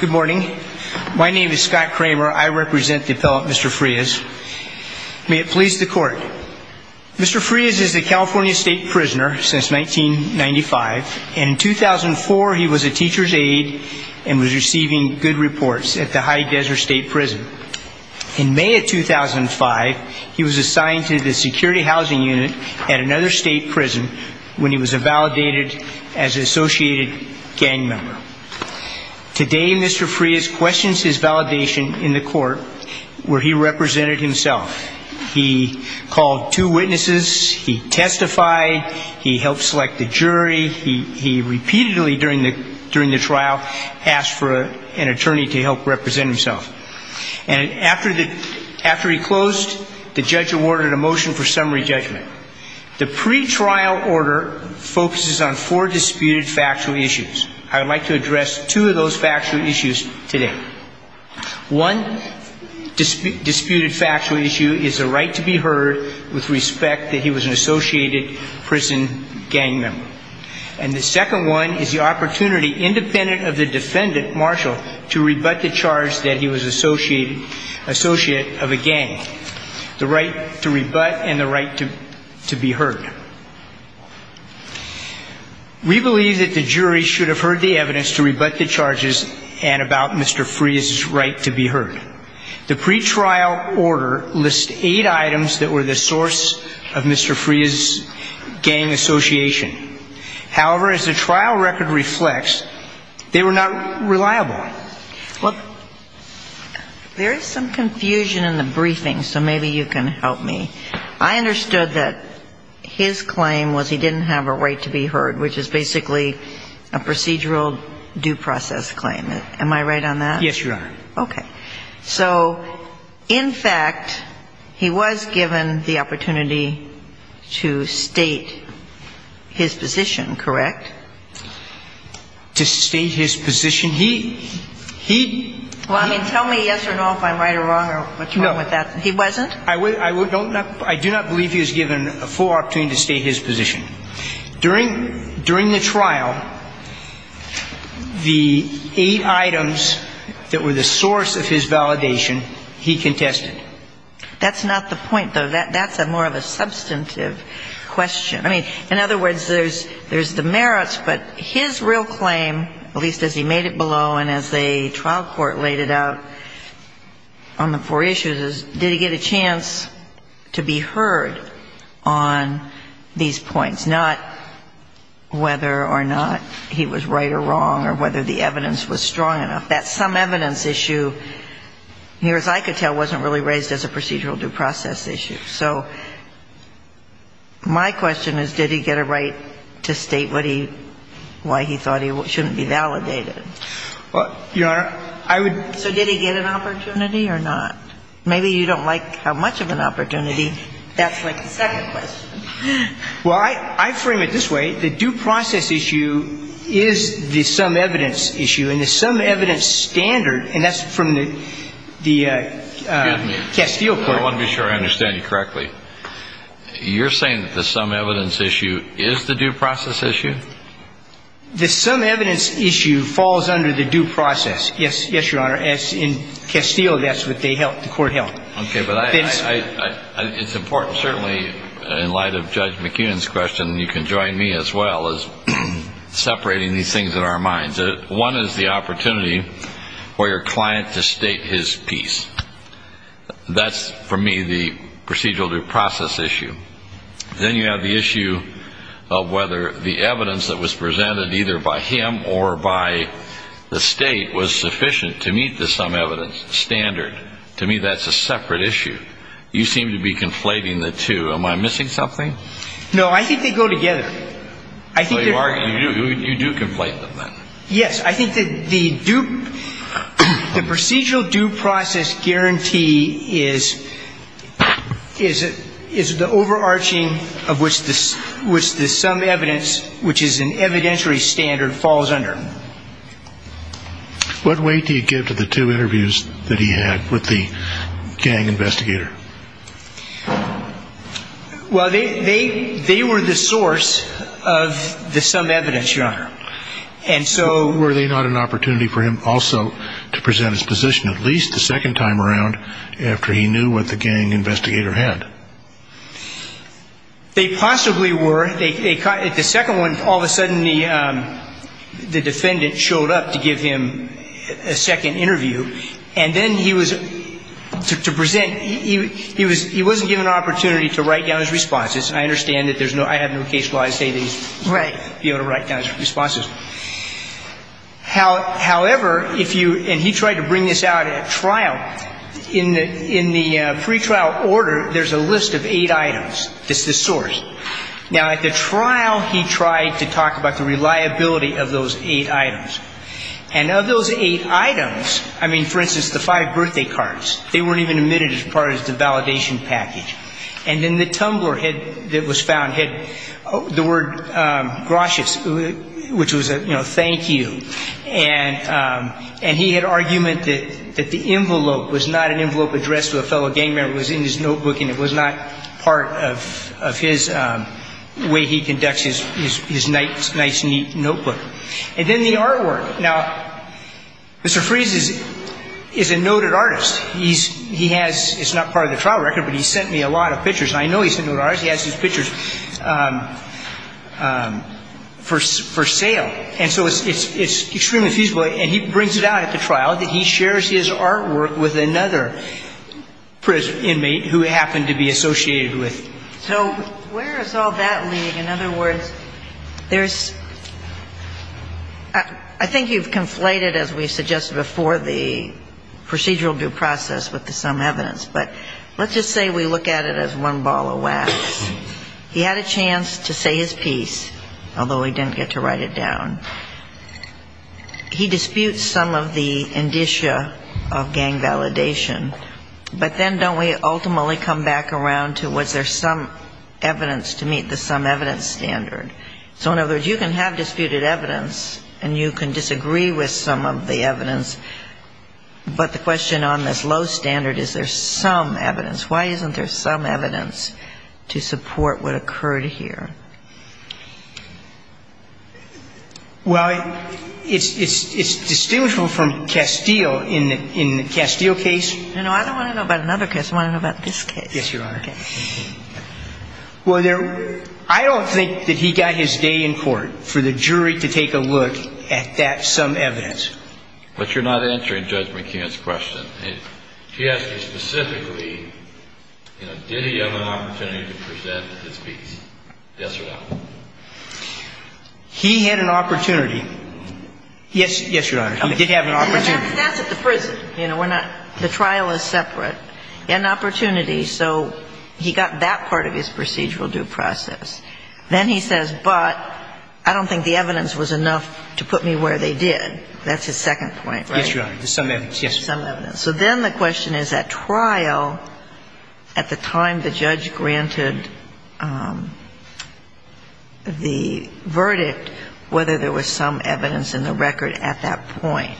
Good morning. My name is Scott Kramer. I represent the appellate Mr. Frias. May it please the court. Mr. Frias is a California state prisoner since 1995. In 2004, he was a teacher's aide and was receiving good reports at the High Desert State Prison. In May of 2005, he was assigned to the Security Housing Unit at another state prison when he was invalidated as associated gang member. Today, Mr. Frias questions his validation in the court where he represented himself. He called two witnesses. He testified. He helped select the jury. He repeatedly, during the trial, asked for an attorney to help represent himself. And after he closed, the judge awarded a motion for summary judgment. The pretrial order focuses on four disputed factual issues. I would like to address two of those factual issues today. One disputed factual issue is the right to be heard with respect that he was an associated prison gang member. And the second one is the opportunity, independent of the defendant, Marshall, to rebut the charge that he was associate of a gang, the right to rebut and the right to be heard. We believe that the jury should have heard the evidence to rebut the charges and about Mr. Frias' right to be heard. The pretrial order lists eight items that were the source of Mr. Frias' gang association. However, as the trial record reflects, they were not reliable. Well, there is some confusion in the briefing, so maybe you can help me. I understood that his claim was he didn't have a right to be heard, which is basically a procedural due process claim. Am I right on that? Yes, Your Honor. Okay. So, in fact, he was given the opportunity to state his position, correct? To state his position? He he Well, I mean, tell me yes or no if I'm right or wrong or what's wrong with that. No. He wasn't? I do not believe he was given a full opportunity to state his position. During the trial, the eight items that were the source of his validation, he contested. That's not the point, though. That's a more of a substantive question. I mean, in other words, there's the merits, but his real claim, at least as he made it below and as the trial court laid it out on the four issues, did he get a chance to be heard on these points, not whether or not he was right or wrong or whether the evidence was strong enough. That some evidence issue, near as I could tell, wasn't really raised as a procedural due process issue. So my question is, did he get a right to state what he why he thought he shouldn't be validated? Well, Your Honor, I would So did he get an opportunity or not? Maybe you don't like how much of an opportunity that's like the second question. Well, I frame it this way. The due process issue is the some evidence issue. And the some evidence standard, and that's from the Castile court I want to be sure I understand you correctly. You're saying that the some evidence issue is the due process issue? The some evidence issue falls under the due process. Yes, Your Honor. In Castile, that's what the court held. Okay, but it's important, certainly in light of Judge McEwen's question, you can join me as well, as separating these things in our minds. One is the opportunity for your client to state his piece. That's, for me, the procedural due process issue. Then you have the issue of whether the evidence that was presented either by him or by the state was sufficient to meet the some evidence standard. To me, that's a separate issue. You seem to be conflating the two. Am I missing something? No, I think they go together. You do conflate them, then. Yes, I think that the procedural due process guarantee is the overarching of which the some evidence, which is an evidentiary standard, falls under. What weight do you give to the two interviews that he had with the gang investigator? Well, they were the source of the some evidence, Your Honor. And so were they not an opportunity for him also to present his position, at least the second time around, after he knew what the gang investigator had? They possibly were. The second one, all of a sudden the defendant showed up to give him a He wasn't given an opportunity to write down his responses. I understand that there's no I have no case law to say that he's able to write down his responses. However, if you, and he tried to bring this out at trial, in the pretrial order, there's a list of eight items. It's the source. Now, at the trial, he tried to talk about the reliability of those eight items. And of those eight items, I mean, for instance, the five birthday cards, they weren't even admitted as part of the validation package. And then the tumbler that was found had the word gracious, which was, you know, thank you. And he had argument that the envelope was not an envelope addressed to a fellow gang member. It was in his notebook, and it was not part of his way he conducts his nice, neat notebook. And then the artwork. Now, Mr. Freese is a noted artist. He's, he has, it's not part of the trial record, but he sent me a lot of pictures. And I know he's a noted artist. He has his pictures for sale. And so it's extremely feasible, and he brings it out at the trial that he shares his artwork with another prisoner, inmate, who happened to be associated with. So where is all that leading? In other words, there's, I think you've conflated, as we suggested before, the procedural due process with the some evidence. But let's just say we look at it as one ball of wax. He had a chance to say his piece, although he didn't get to write it down. He disputes some of the indicia of gang validation. But then don't we ultimately come back around to was there some evidence to meet the some evidence standard? So in other words, you can have disputed evidence, and you can disagree with some of the evidence. But the question on this low standard, is there some evidence? Why isn't there some evidence to support what occurred here? Well, it's distinguishable from Castile in the Castile case. No, no, I don't want to know about another case. I want to know about this case. Yes, Your Honor. Well, there, I don't think that he got his day in court for the jury to take a look at that some evidence. But you're not answering Judge McKeon's question. He asked you specifically, you know, did he have an opportunity to present his piece, yes or no? He had an opportunity. Yes, Your Honor, he did have an opportunity. That's at the prison. You know, we're not, the trial is separate. He had an opportunity. He got that part of his procedural due process. Then he says, but I don't think the evidence was enough to put me where they did. That's his second point, right? Yes, Your Honor, there's some evidence, yes. Some evidence. So then the question is, at trial, at the time the judge granted the verdict, whether there was some evidence in the record at that point.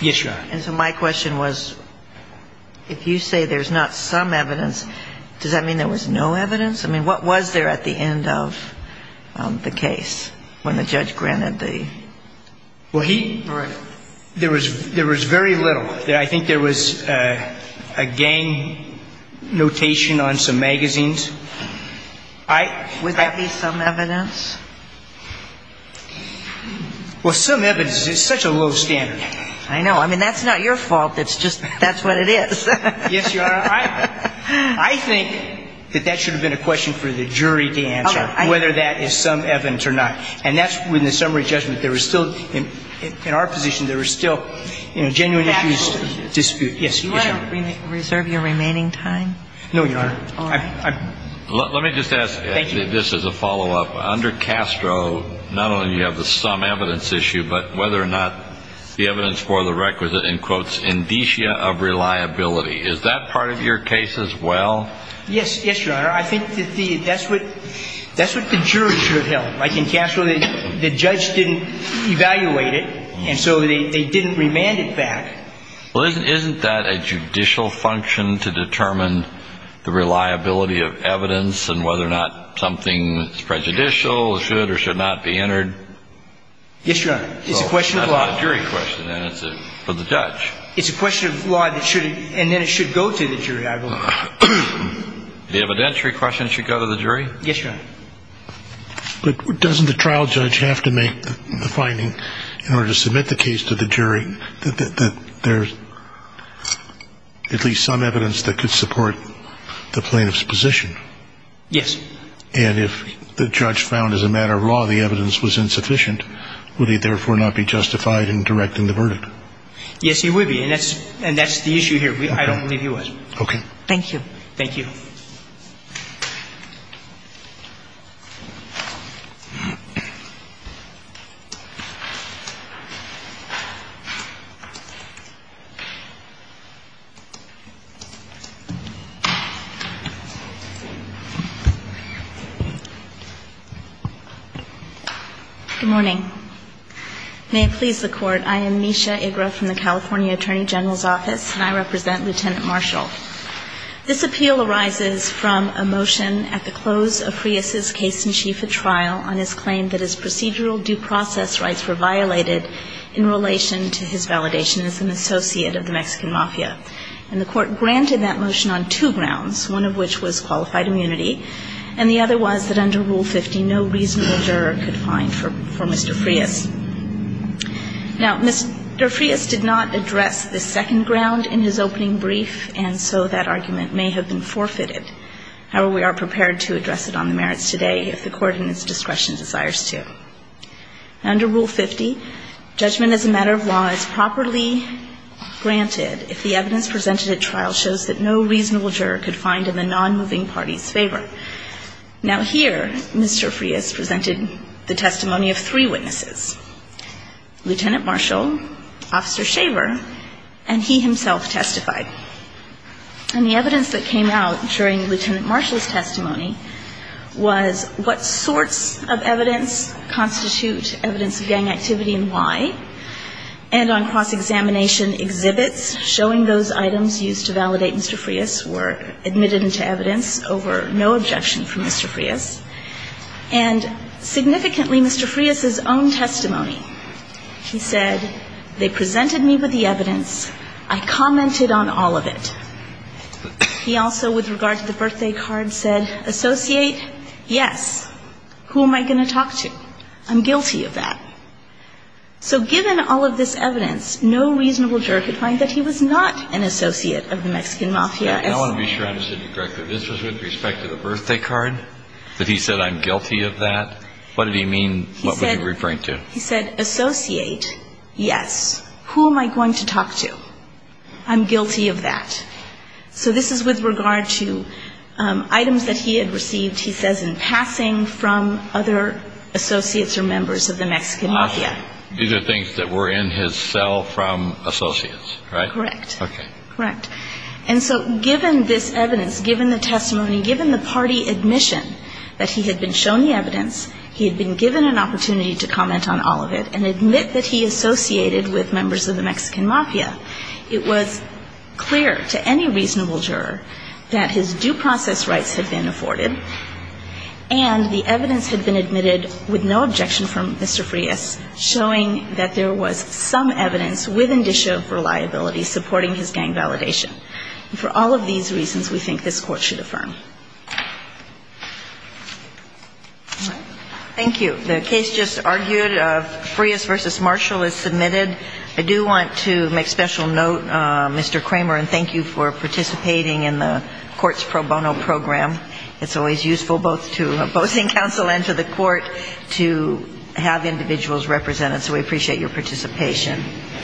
Yes, Your Honor. And so my question was, if you say there's not some evidence, does that mean there was no evidence? I mean, what was there at the end of the case when the judge granted the? Well, he, there was very little. I think there was a gang notation on some magazines. Would that be some evidence? Well, some evidence is such a low standard. I know. I mean, that's not your fault. That's just, that's what it is. Yes, Your Honor. I think that that should have been a question for the jury to answer, whether that is some evidence or not. And that's when the summary judgment, there was still, in our position, there was still genuine issues to dispute. Yes, Your Honor. No, Your Honor. Let me just ask this as a follow-up. Under Castro, not only do you have the some evidence issue, but whether or not the evidence for the requisite, in quotes, indicia of reliability. Is that part of your case as well? Yes. Yes, Your Honor. I think that the, that's what, that's what the jury should have held. Like in Castro, the judge didn't evaluate it, and so they didn't remand it back. Well, isn't, isn't that a judicial function to determine the reliability of evidence and whether or not something that's prejudicial should or should not be entered? Yes, Your Honor. It's a question of law. It's not a jury question, then. It's a, for the judge. It's a question of law that should, and then it should go to the jury, I believe. The evidentiary question should go to the jury? Yes, Your Honor. But doesn't the trial judge have to make the finding in order to submit the case to the jury that there's at least some evidence that could support the plaintiff's position? Yes. And if the judge found as a matter of law the evidence was insufficient, would he therefore not be justified in directing the verdict? Yes, he would be, and that's, and that's the issue here. I don't believe he was. Okay. Thank you. Thank you. Good morning. May it please the Court, I am Nisha Igra from the California Attorney General's Office and I represent Lieutenant Marshall. This appeal arises from a motion at the close of Frias's case in chief of trial on his claim that his procedural due process rights were violated in relation to his trial in California. The court granted that motion on two grounds, one of which was qualified immunity and the other was that under Rule 50 no reasonable juror could find for Mr. Frias. Now, Mr. Frias did not address the second ground in his opening brief and so that argument may have been forfeited. However, we are prepared to address it on the merits today if the court in its discretion desires to. Under Rule 50, judgment as a matter of law is present, and is properly granted if the evidence presented at trial shows that no reasonable juror could find in the non-moving party's favor. Now here, Mr. Frias presented the testimony of three witnesses, Lieutenant Marshall, Officer Shaver, and he himself testified. And the evidence that came out during Lieutenant Marshall's testimony was what sorts of evidence constitute evidence of gang activity and why, and on cross-examination exhibits showing those items used to validate Mr. Frias were admitted into evidence over no objection from Mr. Frias. And significantly, Mr. Frias' own testimony, he said, they presented me with the evidence, I commented on all of it. He also, with regard to the birthday card, said, Associate, yes. Who am I going to talk to? I'm guilty of that. So given all of this evidence, no reasonable juror could find that he was not an associate of the Mexican Mafia. Now let me be sure I understood you correctly. This was with respect to the birthday card, that he said, I'm guilty of that? What did he mean, what would he referring to? He said, Associate, yes. Who am I going to talk to? I'm guilty of that. So this is with regard to items that he had received, he says, in passing from other associates or members of the Mexican Mafia. These are things that were in his cell from associates, right? Correct. Okay. Correct. And so given this evidence, given the testimony, given the party admission that he had been shown the evidence, he had been given an opportunity to comment on all of it and admit that he associated with members of the Mexican Mafia, it was clear to any reasonable juror that his due process rights had been afforded. And the evidence had been admitted with no objection from Mr. Frias, showing that there was some evidence with indicia of reliability supporting his gang validation. And for all of these reasons, we think this Court should affirm. All right. Thank you. The case just argued, Frias v. Marshall is submitted. I do want to make special note, Mr. Kramer, and thank you for participating in the Court's pro bono program. It's always useful both to opposing counsel and to the Court to have individuals represented. So we appreciate your participation.